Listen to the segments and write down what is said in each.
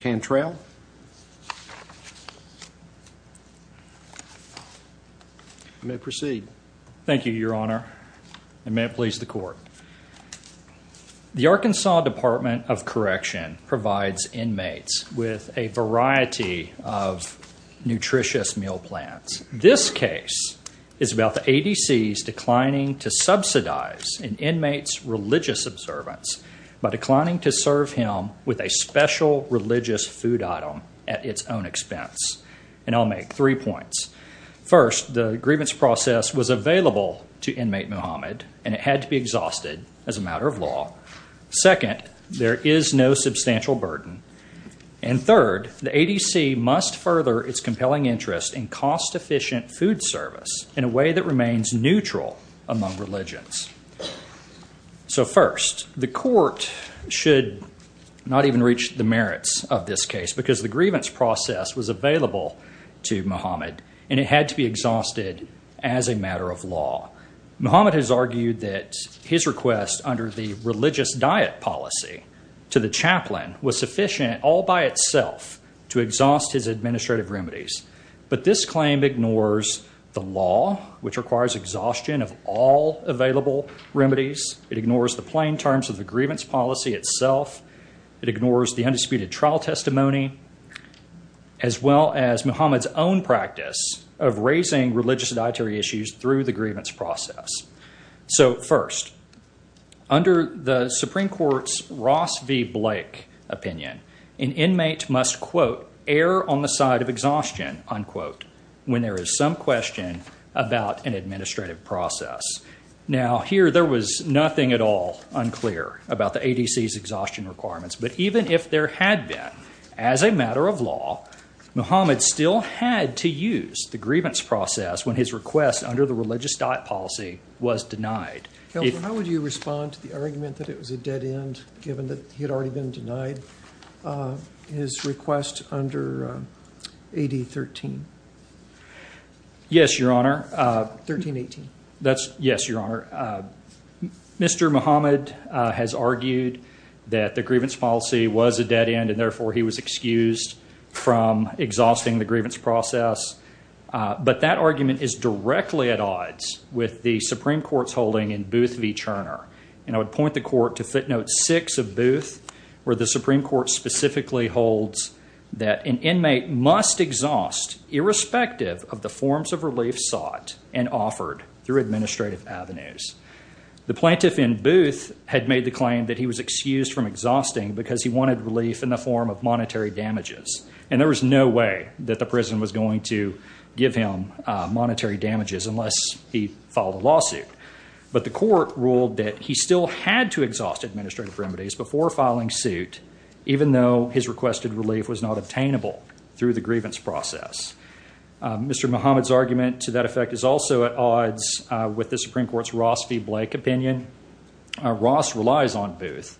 Cantrell may proceed. Thank you your honor and may it please the court. The Arkansas Department of Correction provides inmates with a variety of nutritious meal plans. This case is about the ADC's declining to subsidize an inmate's religious observance by declining to serve him with a special religious food item at its own expense. And I'll make three points. First, the grievance process was available to inmate Muhammad and it had to be exhausted as a matter of law. Second, there is no substantial burden. And third, the ADC must further its compelling interest in cost-efficient food service in a way that remains neutral among religions. So first, the court should not even reach the merits of this case because the grievance process was available to Muhammad and it had to be exhausted as a matter of law. Muhammad has argued that his request under the religious diet policy to the chaplain was sufficient all by itself to exhaust his administrative remedies. But this claim ignores the law which requires exhaustion of all available remedies. It ignores the undisputed trial testimony as well as Muhammad's own practice of raising religious dietary issues through the grievance process. So first, under the Supreme Court's Ross v. Blake opinion, an inmate must, quote, err on the side of exhaustion, unquote, when there is some question about an administrative process. Now here there was nothing at all unclear about the ADC's exhaustion requirements, but even if there had been as a matter of law, Muhammad still had to use the grievance process when his request under the religious diet policy was denied. How would you respond to the argument that it was a dead end given that he had already been denied his request under AD 13? Yes, Your Honor. 1318. Yes, Your Honor. Mr. Muhammad has argued that the grievance policy was a dead end and therefore he was excused from exhausting the grievance process. But that argument is directly at odds with the Supreme Court's holding in Booth v. Turner. And I would point the court to footnote 6 of Booth where the Supreme Court specifically holds that an inmate must exhaust irrespective of the administrative avenues. The plaintiff in Booth had made the claim that he was excused from exhausting because he wanted relief in the form of monetary damages. And there was no way that the prison was going to give him monetary damages unless he filed a lawsuit. But the court ruled that he still had to exhaust administrative remedies before filing suit even though his requested relief was not obtainable through the grievance process. Mr. Muhammad's with the Supreme Court's Ross v. Blake opinion. Ross relies on Booth.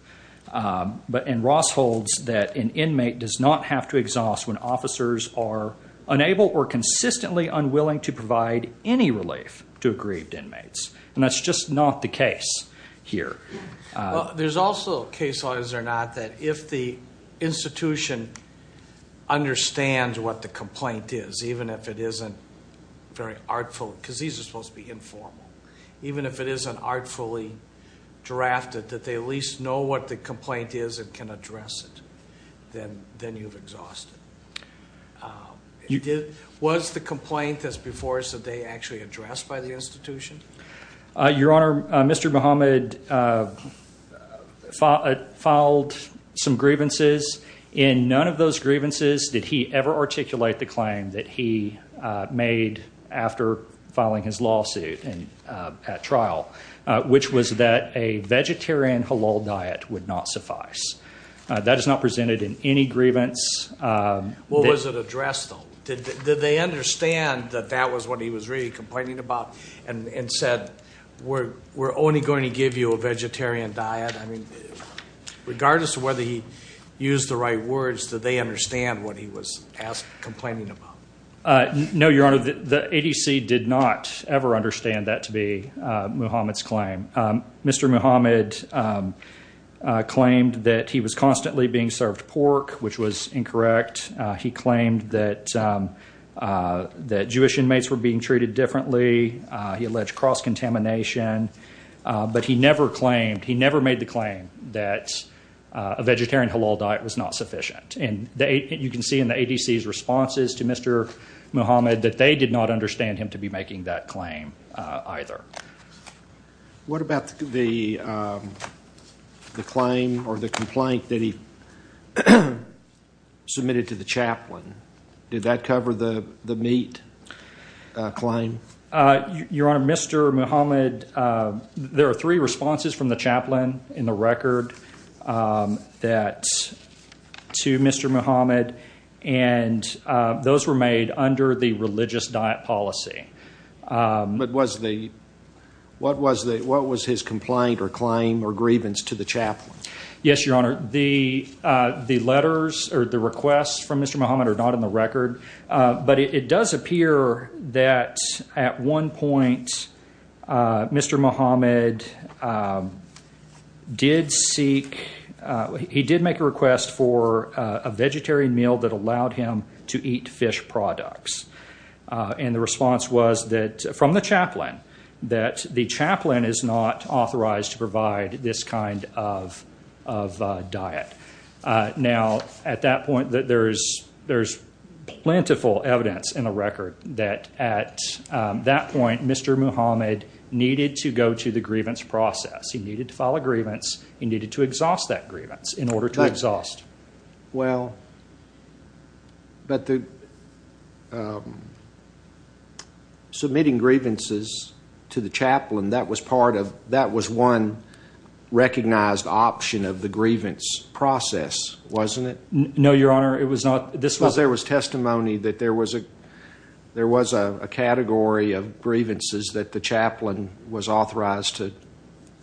But and Ross holds that an inmate does not have to exhaust when officers are unable or consistently unwilling to provide any relief to aggrieved inmates. And that's just not the case here. There's also a case law, is there not, that if the institution understands what the complaint is, even if it isn't very informal, even if it isn't artfully drafted, that they at least know what the complaint is and can address it. Then, then you've exhausted. Was the complaint as before said they actually addressed by the institution? Your honor, Mr. Muhammad filed some grievances. In none of those grievances did he ever articulate the claim that he made after filing his lawsuit and at trial, which was that a vegetarian halal diet would not suffice. That is not presented in any grievance. What was it addressed though? Did they understand that that was what he was really complaining about and said, we're only going to give you a vegetarian diet? I mean, regardless of whether he used the words, did they understand what he was complaining about? No, your honor, the ADC did not ever understand that to be Muhammad's claim. Mr. Muhammad claimed that he was constantly being served pork, which was incorrect. He claimed that that Jewish inmates were being treated differently. He alleged cross-contamination, but he never claimed, he never made the claim that a and the, you can see in the ADC's responses to Mr. Muhammad that they did not understand him to be making that claim either. What about the, um, the claim or the complaint that he submitted to the chaplain? Did that cover the, the meat claim? Uh, your honor, Mr. Muhammad, uh, there are three responses from the chaplain in the record, um, that to Mr. Muhammad. And, uh, those were made under the religious diet policy. Um, but was the, what was the, what was his complaint or claim or grievance to the chaplain? Yes, your honor. The, uh, the letters or the requests from Mr. Muhammad are not in the record. Uh, but it does appear that at one point, uh, Mr. Muhammad, um, did seek, uh, he did make a request for a vegetarian meal that allowed him to eat fish products. Uh, and the response was that from the chaplain that the chaplain is not authorized to provide this kind of, of a diet. Uh, now at that point that there's, there's plentiful evidence in a record that at that point, Mr. Muhammad needed to go to the grievance process. He needed to file a grievance. He needed to exhaust that grievance in order to exhaust. Well, but the, um, submitting grievances to the chaplain that was part of, that was one recognized option of the grievance process, wasn't it? No, your honor. It was not. This was, there was testimony that there was a, there was a category of grievances that the chaplain was authorized to,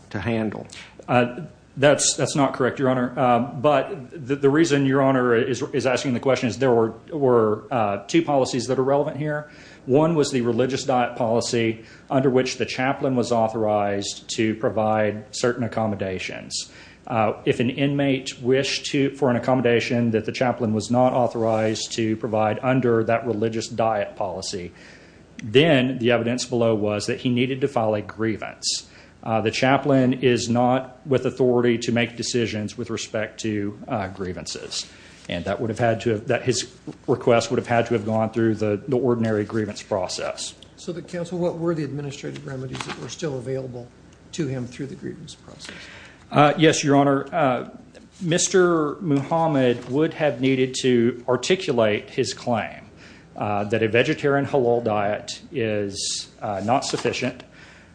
to handle. Uh, that's, that's not correct, your honor. Um, but the reason your honor is asking the question is there were, were, uh, two policies that are relevant here. One was the religious diet policy under which the chaplain was authorized to provide certain accommodations. Uh, if an inmate wished to, for an inmate was not authorized to provide under that religious diet policy, then the evidence below was that he needed to file a grievance. Uh, the chaplain is not with authority to make decisions with respect to, uh, grievances. And that would have had to have that his request would have had to have gone through the ordinary grievance process. So the council, what were the administrative remedies that were still available to him through the grievance process? Uh, yes, your honor. Uh, Mr. Muhammad would have needed to articulate his claim, uh, that a vegetarian halal diet is, uh, not sufficient.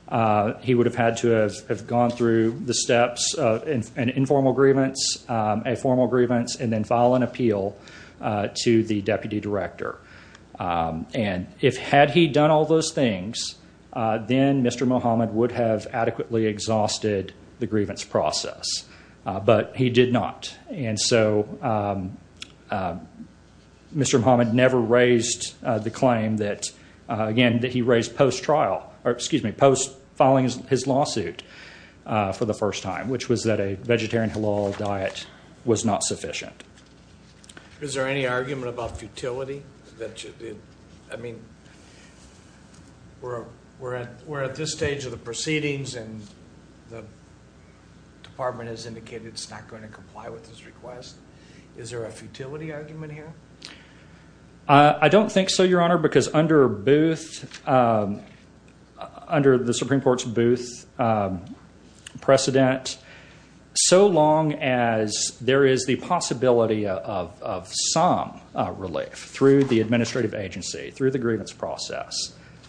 Uh, he would have had to have gone through the steps of an informal grievance, um, a formal grievance, and then file an appeal, uh, to the deputy director. Um, and if, had he done all those things, uh, then Mr. Muhammad would have adequately exhausted the grievance process. Uh, but he did not. And so, um, uh, Mr. Muhammad never raised the claim that, uh, again, that he raised post trial or excuse me, post filing his lawsuit, uh, for the first time, which was that a vegetarian halal diet was not sufficient. Is there any argument about futility that you did? I mean, we're, we're at, we're at this stage of the proceedings and the department has indicated it's not going to comply with this request. Is there a futility argument here? Uh, I don't think so, your honor, because under Booth, um, under the Supreme court's Booth, um, precedent, so long as there is the possibility of, of some relief through the administrative agency, through the grievance process,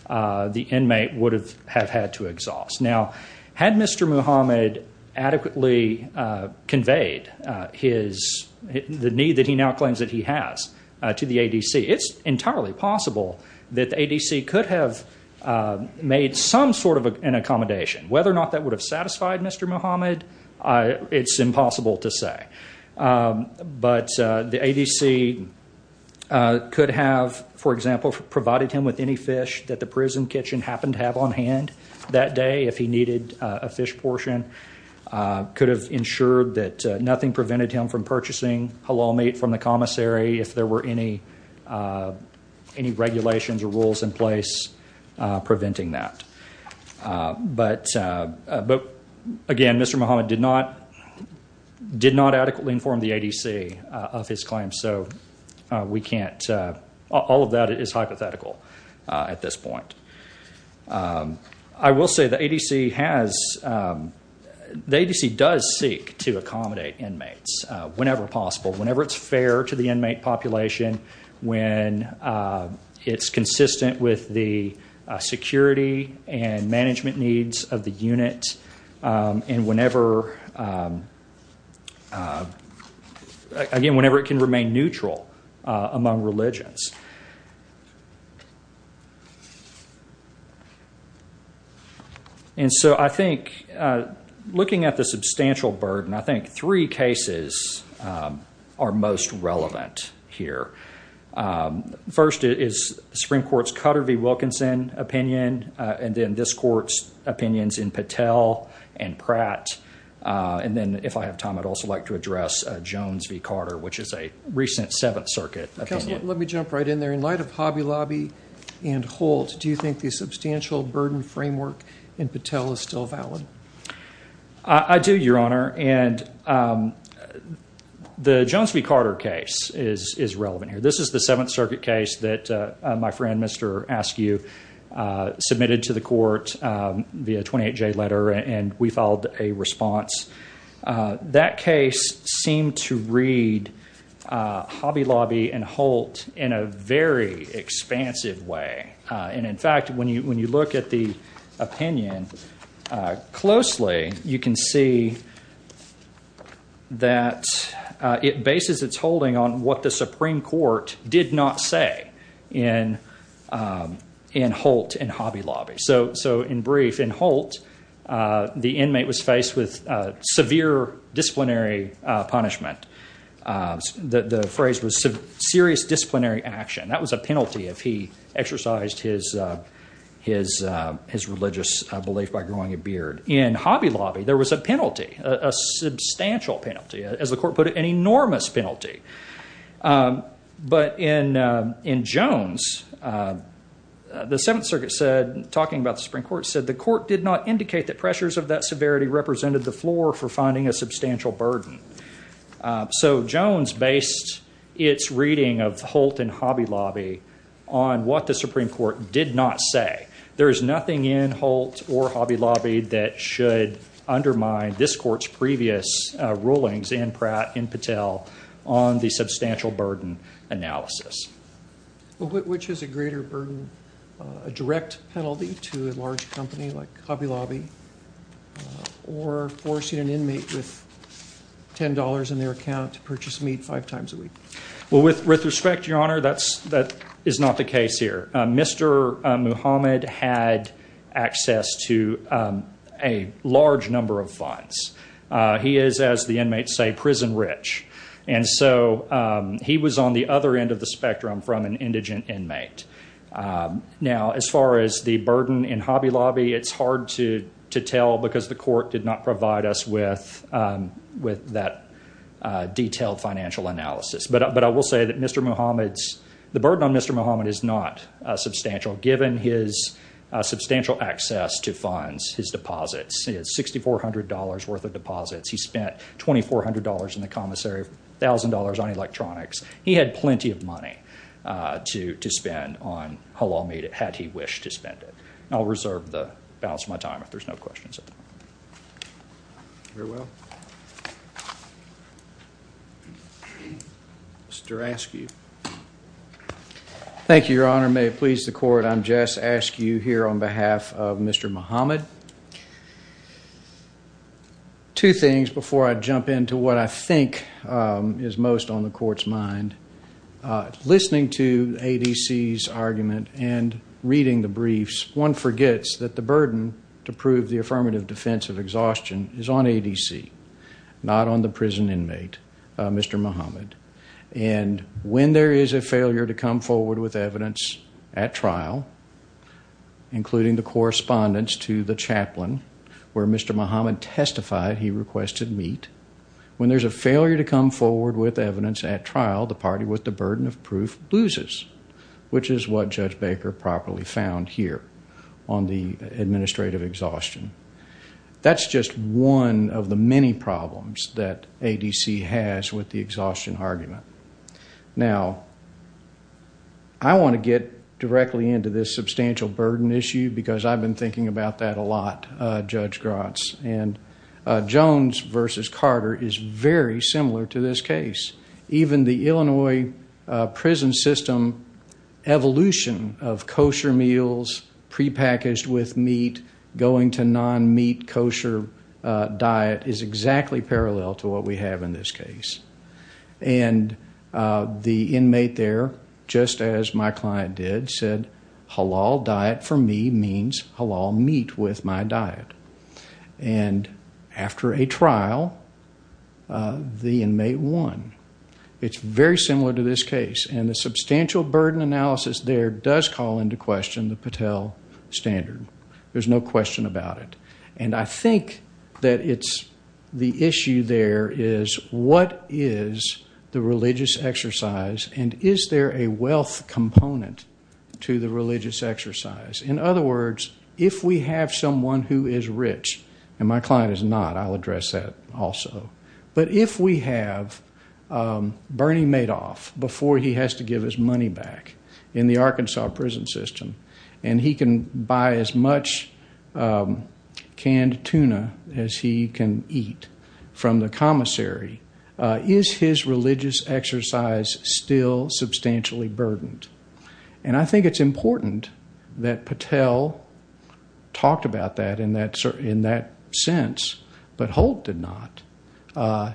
uh, the inmate would have had to exhaust. Now had Mr. Muhammad adequately, uh, conveyed, uh, his, the need that he now claims that he has, uh, to the ADC, it's entirely possible that the ADC could have, uh, made some sort of an accommodation, whether or not that would have satisfied Mr. Muhammad. Uh, it's impossible to say. Um, but, uh, the ADC, uh, could have, for example, provided him with any fish that the prison kitchen happened to have on hand that day. If he needed a fish portion, uh, could have ensured that nothing prevented him from purchasing halal meat from the commissary. If there were any, uh, any regulations or rules in place, uh, preventing that. Uh, but, uh, but again, Mr. Muhammad did not, did not adequately inform the ADC, uh, of his claim. So, uh, we can't, uh, all of that is hypothetical, uh, at this point. Um, I will say the ADC has, um, the ADC does seek to accommodate inmates, uh, whenever possible, whenever it's fair to the inmate population, when, uh, it's consistent with the, uh, security and uh, again, whenever it can remain neutral, uh, among religions. And so I think, uh, looking at the substantial burden, I think three cases, um, are most relevant here. Um, first is Supreme Court's Cutter v. Wilkinson opinion, uh, and then this court's opinions in Patel and Pratt. Uh, and then if I have time, I'd also like to address, uh, Jones v. Carter, which is a recent seventh circuit. Let me jump right in there in light of Hobby Lobby and Holt. Do you think the substantial burden framework in Patel is still valid? I do your honor. And, um, the Jones v. Carter case is, is relevant here. This is the seventh circuit case that, uh, my friend, Mr. Askew, uh, submitted to the court, um, via 28J letter and we filed a response. Uh, that case seemed to read, uh, Hobby Lobby and Holt in a very expansive way. Uh, and in fact, when you, when you look at the opinion, uh, closely, you can see that, uh, it did not say in, um, in Holt and Hobby Lobby. So, so in brief in Holt, uh, the inmate was faced with, uh, severe disciplinary, uh, punishment. Uh, the, the phrase was serious disciplinary action. That was a penalty if he exercised his, uh, his, uh, his religious belief by growing a beard. In Hobby Lobby, there was a penalty, a substantial penalty, as the court put it, an in, uh, in Jones, uh, uh, the seventh circuit said, talking about the Supreme Court said, the court did not indicate that pressures of that severity represented the floor for finding a substantial burden. Uh, so Jones based its reading of Holt and Hobby Lobby on what the Supreme Court did not say. There is nothing in Holt or Hobby Lobby that should undermine this court's previous, uh, rulings in Pratt and Patel on the substantial burden analysis. Well, which is a greater burden, uh, a direct penalty to a large company like Hobby Lobby, uh, or forcing an inmate with $10 in their account to purchase meat five times a week? Well, with, with respect, Your Honor, that's, that is not the case here. Mr. Muhammad had access to, um, a large number of funds. Uh, he is, as the inmates say, prison rich. And so, um, he was on the other end of the spectrum from an indigent inmate. Um, now as far as the burden in Hobby Lobby, it's hard to, to tell because the court did not provide us with, um, with that, uh, detailed financial analysis, but, but I will say that Mr. Muhammad is not, uh, substantial given his, uh, substantial access to funds, his deposits. He has $6,400 worth of deposits. He spent $2,400 in the commissary, $1,000 on electronics. He had plenty of money, uh, to, to spend on Halal meat had he wished to spend it. And I'll reserve the balance of my time if there's no questions. Very well. Mr. Askew. Thank you, Your Honor. May it please the court. I'm Jess Askew here on behalf of Mr. Muhammad. Two things before I jump into what I think, um, is most on the court's mind. Uh, listening to ADC's argument and reading the briefs, one forgets that the burden to prove the affirmative defense of exhaustion is on ADC, not on the prison inmate, uh, Mr. Muhammad. And when there is a failure to come forward with evidence at trial, including the correspondence to the chaplain where Mr. Muhammad testified, he requested meat. When there's a failure to come forward with evidence at trial, the party with the burden of proof loses, which is what Judge Baker properly found here on the administrative exhaustion. That's just one of the many problems that ADC has with the exhaustion argument. Now, I want to get directly into this substantial burden issue because I've been thinking about that a lot, uh, Judge Grotz and, uh, Jones versus Carter is very similar to this case. Even the Illinois, uh, prison system evolution of kosher meals prepackaged with meat going to non-meat kosher, uh, diet is exactly parallel to what we have in this case. And, uh, the inmate there, just as my client did said, halal diet for me means halal meat with my diet. And after a trial, uh, the inmate won. It's very similar to this case. And the substantial burden analysis there does call into question the Patel standard. There's no question about it. And I think that it's the issue there is what is the religious exercise and is there a wealth component to the religious exercise? In other words, if we have someone who is rich and my client is not, I'll address that also. But if we have, um, Bernie Madoff before he has to give his money back in the And he can buy as much, um, canned tuna as he can eat from the commissary. Uh, is his religious exercise still substantially burdened? And I think it's important that Patel talked about that in that, in that sense, but Holt did not, uh,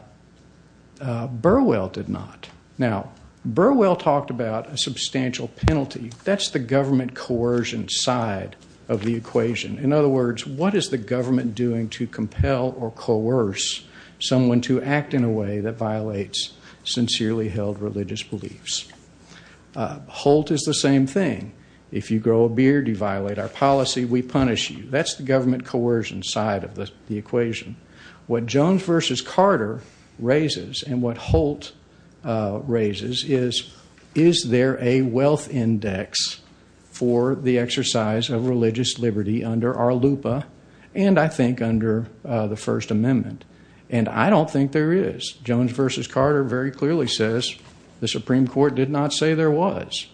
uh, Burwell did not. Now Burwell talked about a substantial penalty. That's the government coercion side of the equation. In other words, what is the government doing to compel or coerce someone to act in a way that violates sincerely held religious beliefs? Uh, Holt is the same thing. If you grow a beard, you violate our policy. We punish you. That's the government coercion side of the equation. What Jones versus Carter raises and what Holt, uh, raises is, is there a wealth index for the exercise of religious liberty under our LUPA? And I think under, uh, the first amendment. And I don't think there is. Jones versus Carter very clearly says the Supreme court did not say there was.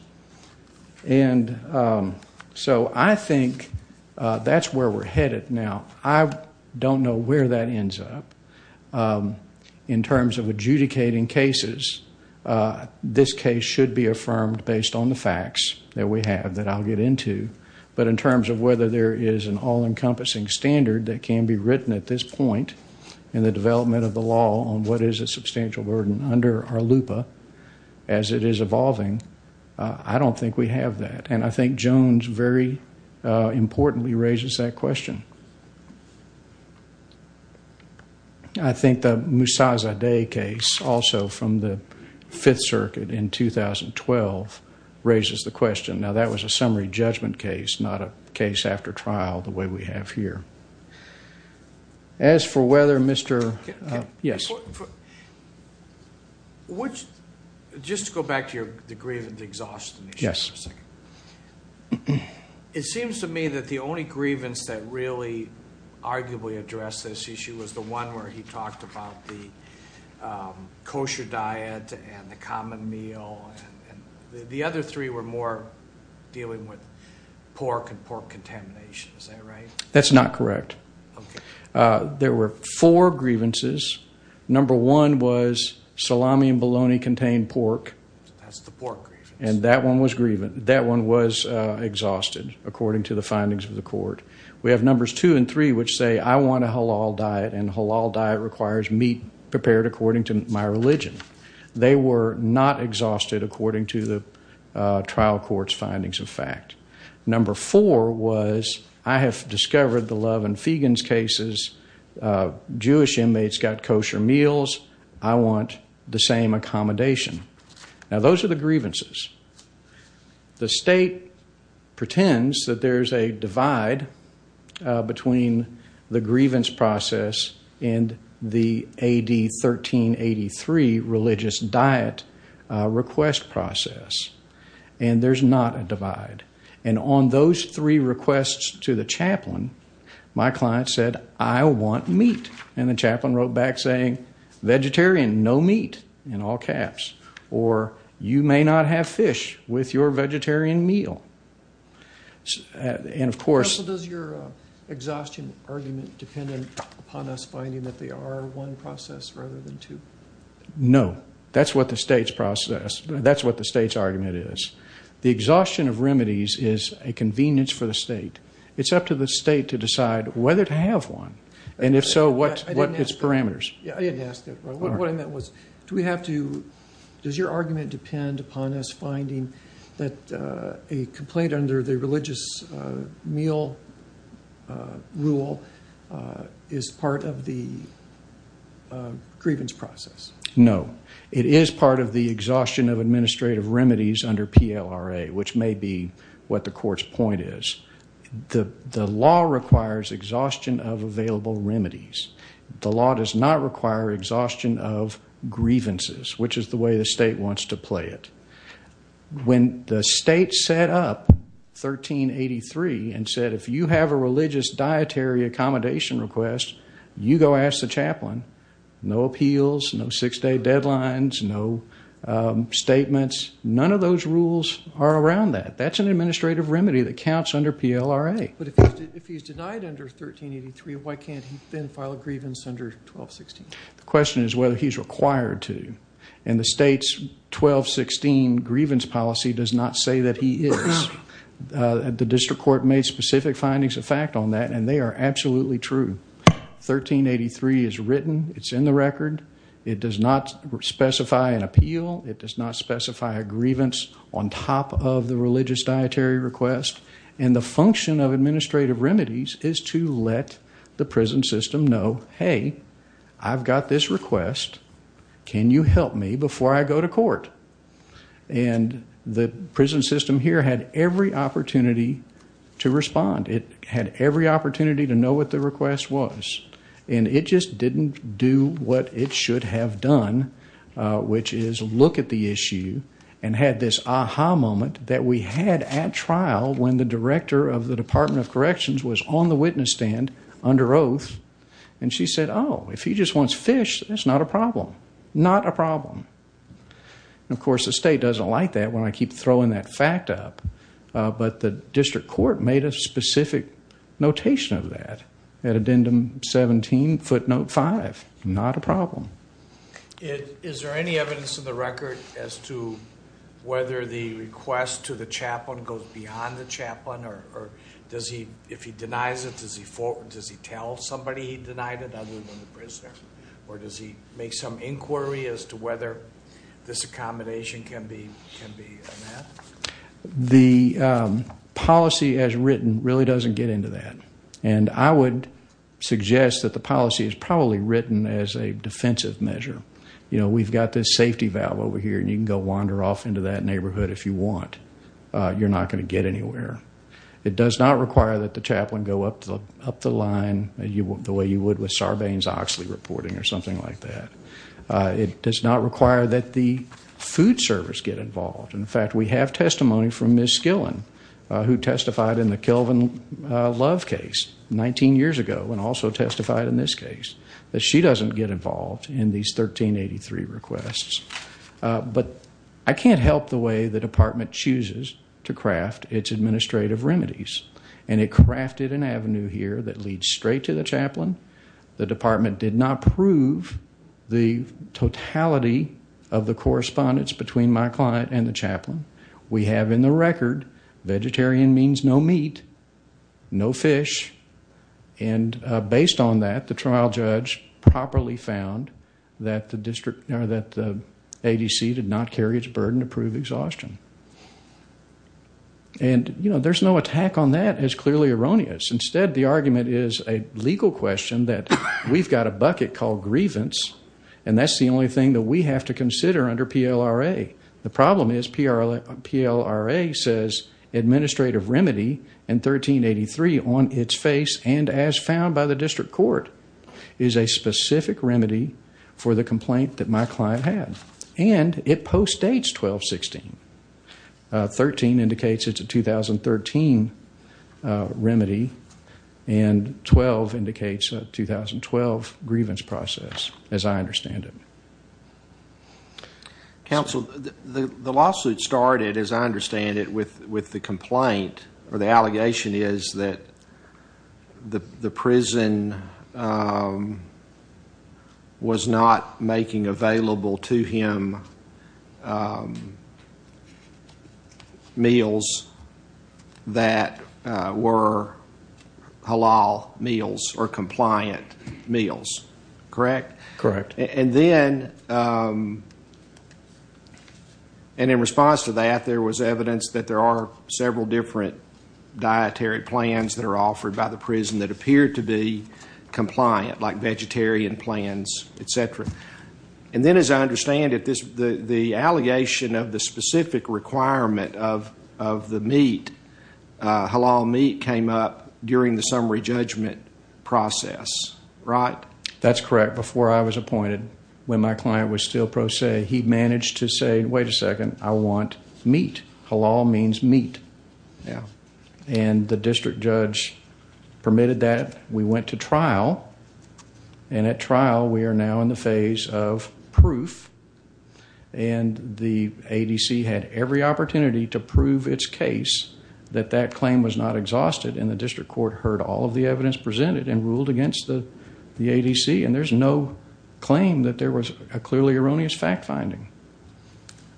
And, um, so I think, uh, that's where we're headed now. I don't know where that ends up, um, in terms of adjudicating cases, uh, this case should be affirmed based on the facts that we have that I'll get into. But in terms of whether there is an all encompassing standard that can be written at this point in the development of the law on what is a substantial burden under our LUPA as it is evolving. Uh, I don't think we have that. And I think Jones very, uh, importantly raises that question. Um, I think the Musazadeh case also from the fifth circuit in 2012 raises the question, now that was a summary judgment case, not a case after trial, the way we have here as for whether Mr., uh, yes. Just to go back to your, the grievance, the exhaustion issue for a second, it arguably address this issue was the one where he talked about the, um, kosher diet and the common meal and the other three were more dealing with pork and pork contamination, is that right? That's not correct. Okay. Uh, there were four grievances. Number one was salami and bologna contained pork. That's the pork. And that one was grievant. That one was, uh, exhausted according to the findings of the court. We have numbers two and three, which say I want a halal diet and halal diet requires meat prepared according to my religion. They were not exhausted according to the, uh, trial court's findings of fact. Number four was, I have discovered the love and fegans cases, uh, Jewish inmates got kosher meals. I want the same accommodation. Now those are the grievances. The state pretends that there's a divide, uh, between the grievance process and the AD 1383 religious diet, uh, request process. And there's not a divide. And on those three requests to the chaplain, my client said, I want meat. And the chaplain wrote back saying vegetarian, no meat in all caps, or you may not have fish with your vegetarian meal. Uh, and of course, So does your, uh, exhaustion argument dependent upon us finding that they are one process rather than two? No, that's what the state's process, that's what the state's argument is. The exhaustion of remedies is a convenience for the state. It's up to the state to decide whether to have one. And if so, what, what it's parameters. Yeah. I didn't ask that. What I meant was, do we have to, does your argument depend upon us finding that, uh, a complaint under the religious, uh, meal, uh, rule, uh, is part of the, uh, grievance process? No, it is part of the exhaustion of administrative remedies under PLRA, which may be what the court's point is. The, the law requires exhaustion of available remedies. The law does not require exhaustion of grievances, which is the way the state wants to play it. When the state set up 1383 and said, if you have a religious dietary accommodation request, you go ask the chaplain, no appeals, no six day deadlines, no, um, statements. None of those rules are around that. That's an administrative remedy that counts under PLRA. But if he's, if he's denied under 1383, why can't he then file a grievance under 1216? The question is whether he's required to. And the state's 1216 grievance policy does not say that he is. Uh, the district court made specific findings of fact on that. And they are absolutely true. 1383 is written. It's in the record. It does not specify an appeal. It does not specify a grievance on top of the religious dietary request. And the function of administrative remedies is to let the prison system know, Hey, I've got this request. Can you help me before I go to court? And the prison system here had every opportunity to respond. It had every opportunity to know what the request was, and it just didn't do what it should have done. Uh, which is look at the issue and had this aha moment that we had at when the director of the department of corrections was on the witness stand under oath and she said, Oh, if he just wants fish, that's not a problem. Not a problem. Of course, the state doesn't like that when I keep throwing that fact up. Uh, but the district court made a specific notation of that at addendum 17 footnote five. Not a problem. It, is there any evidence in the record as to whether the request to the chaplain or, or does he, if he denies it, does he forward, does he tell somebody he denied it, other than the prisoner, or does he make some inquiry as to whether this accommodation can be, can be met? The, um, policy as written really doesn't get into that. And I would suggest that the policy is probably written as a defensive measure. You know, we've got this safety valve over here and you can go wander off into that neighborhood if you want. Uh, you're not going to get anywhere. It does not require that the chaplain go up to the, up the line that you would, the way you would with Sarbanes-Oxley reporting or something like that. Uh, it does not require that the food service get involved. In fact, we have testimony from Ms. Skillen, uh, who testified in the Kelvin, uh, Love case 19 years ago, and also testified in this case that she doesn't get involved in these 1383 requests. Uh, but I can't help the way the department chooses to craft its administrative remedies. And it crafted an avenue here that leads straight to the chaplain. The department did not prove the totality of the correspondence between my client and the chaplain. We have in the record, vegetarian means no meat, no fish. And, uh, based on that, the trial judge properly found that the district, or that the ADC did not carry its burden to prove exhaustion. And, you know, there's no attack on that as clearly erroneous. Instead, the argument is a legal question that we've got a bucket called grievance, and that's the only thing that we have to consider under PLRA. The problem is PLRA says administrative remedy in 1383 on its face and as my client had, and it postdates 1216, uh, 13 indicates it's a 2013, uh, remedy and 12 indicates a 2012 grievance process, as I understand it. Counsel, the lawsuit started, as I understand it, with, with the available to him, um, meals that, uh, were halal meals or compliant meals. Correct? Correct. And then, um, and in response to that, there was evidence that there are several different dietary plans that are offered by the prison that appeared to be compliant, like vegetarian plans, et cetera. And then, as I understand it, this, the, the allegation of the specific requirement of, of the meat, uh, halal meat came up during the summary judgment process, right? That's correct. Before I was appointed, when my client was still pro se, he managed to say, wait a second, I want meat, halal means meat now, and the district judge permitted that we went to trial and at trial, we are now in the phase of proof and the ADC had every opportunity to prove its case that that claim was not exhausted. And the district court heard all of the evidence presented and ruled against the, the ADC. And there's no claim that there was a clearly erroneous fact finding.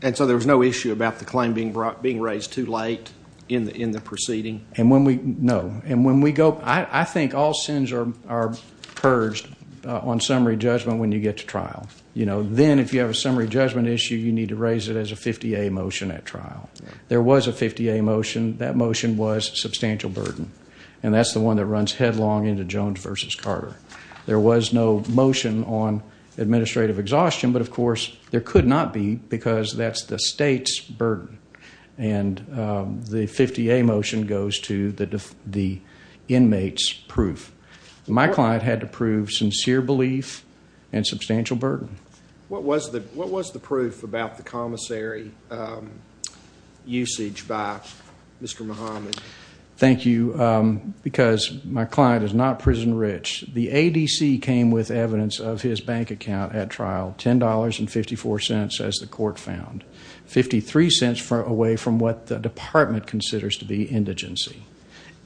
And so there was no issue about the claim being brought, being raised too late in the, in the proceeding? And when we, no. And when we go, I think all sins are, are purged on summary judgment when you get to trial. You know, then if you have a summary judgment issue, you need to raise it as a 50A motion at trial. There was a 50A motion. That motion was substantial burden. And that's the one that runs headlong into Jones versus Carter. There was no motion on administrative exhaustion, but of course there could not be because that's the state's burden. And, um, the 50A motion goes to the, the inmates proof. My client had to prove sincere belief and substantial burden. What was the, what was the proof about the commissary, um, usage by Mr. Muhammad? Thank you. Um, because my client is not prison rich. The ADC came with evidence of his bank account at trial, $10 and $0.54 as the court found, $0.53 away from what the department considers to be indigency.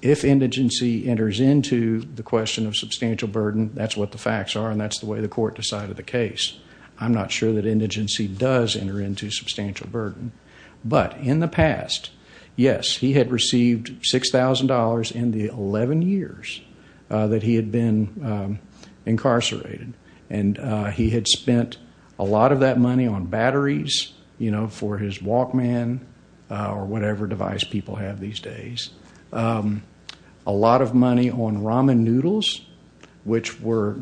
If indigency enters into the question of substantial burden, that's what the facts are, and that's the way the court decided the case, I'm not sure that indigency does enter into substantial burden, but in the past, yes, he had received $6,000 in the 11 years that he had been incarcerated. And, uh, he had spent a lot of that money on batteries, you know, for his Walkman, uh, or whatever device people have these days, um, a lot of money on ramen noodles, which were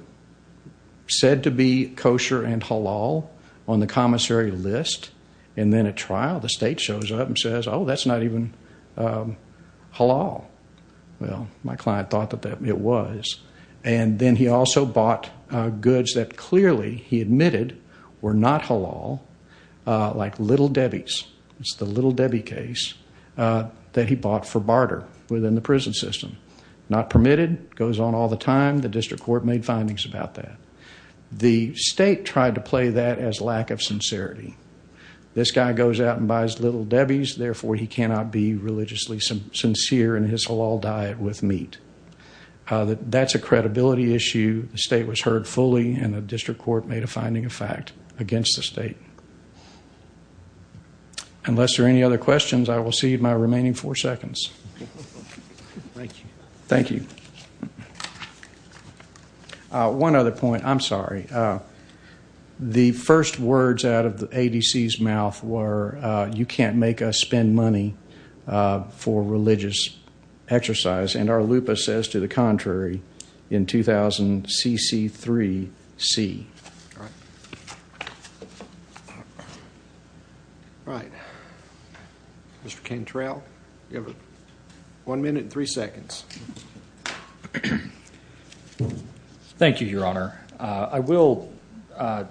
said to be kosher and halal on the commissary list. And then at trial, the state shows up and says, oh, that's not even, um, halal. Well, my client thought that that it was. And then he also bought, uh, goods that clearly he admitted were not halal. Uh, like Little Debbie's, it's the Little Debbie case, uh, that he bought for barter within the prison system. Not permitted, goes on all the time. The district court made findings about that. The state tried to play that as lack of sincerity. This guy goes out and buys Little Debbie's, therefore he cannot be religiously sincere in his halal diet with meat. Uh, that that's a credibility issue. The state was heard fully and the district court made a finding of fact against the state. Unless there are any other questions, I will see my remaining four seconds. Thank you. Thank you. Uh, one other point, I'm sorry. Uh, the first words out of the ADC's mouth were, uh, you can't make us spend money, uh, for religious exercise. And our lupa says to the contrary in 2000 CC3C. All right. Right. Mr. Cantrell, you have one minute and three seconds. Thank you, your honor. Uh, I will, uh,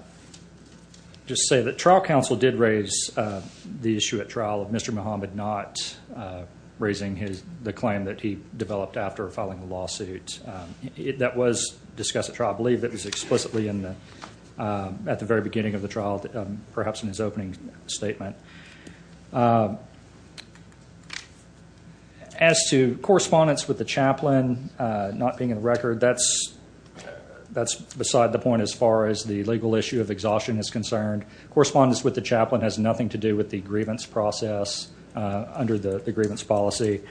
just say that trial counsel did raise, uh, the issue at Mr. Mohamed not, uh, raising his, the claim that he developed after filing the lawsuit, um, it, that was discussed at trial, I believe that was explicitly in the, um, at the very beginning of the trial, um, perhaps in his opening statement. Um, as to correspondence with the chaplain, uh, not being in the record, that's, that's beside the point as far as the legal issue of exhaustion is concerned, correspondence with the chaplain has nothing to do with the process, uh, under the, the grievance policy,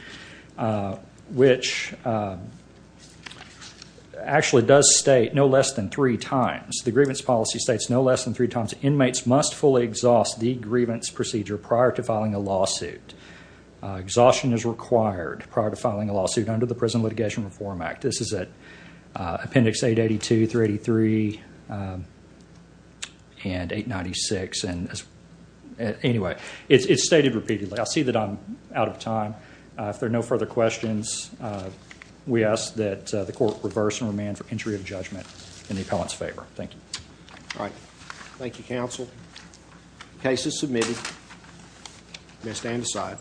uh, which, uh, actually does state no less than three times the grievance policy states no less than three times inmates must fully exhaust the grievance procedure prior to filing a lawsuit, uh, exhaustion is required prior to filing a lawsuit under the prison litigation reform act. This is at, uh, appendix 882, 383, um, and 896. And anyway, it's, it's stated repeatedly. I'll see that I'm out of time. Uh, if there are no further questions, uh, we ask that, uh, the court reverse and remand for entry of judgment in the appellant's favor. Thank you. All right. Thank you. Counsel. Case is submitted. You may stand aside.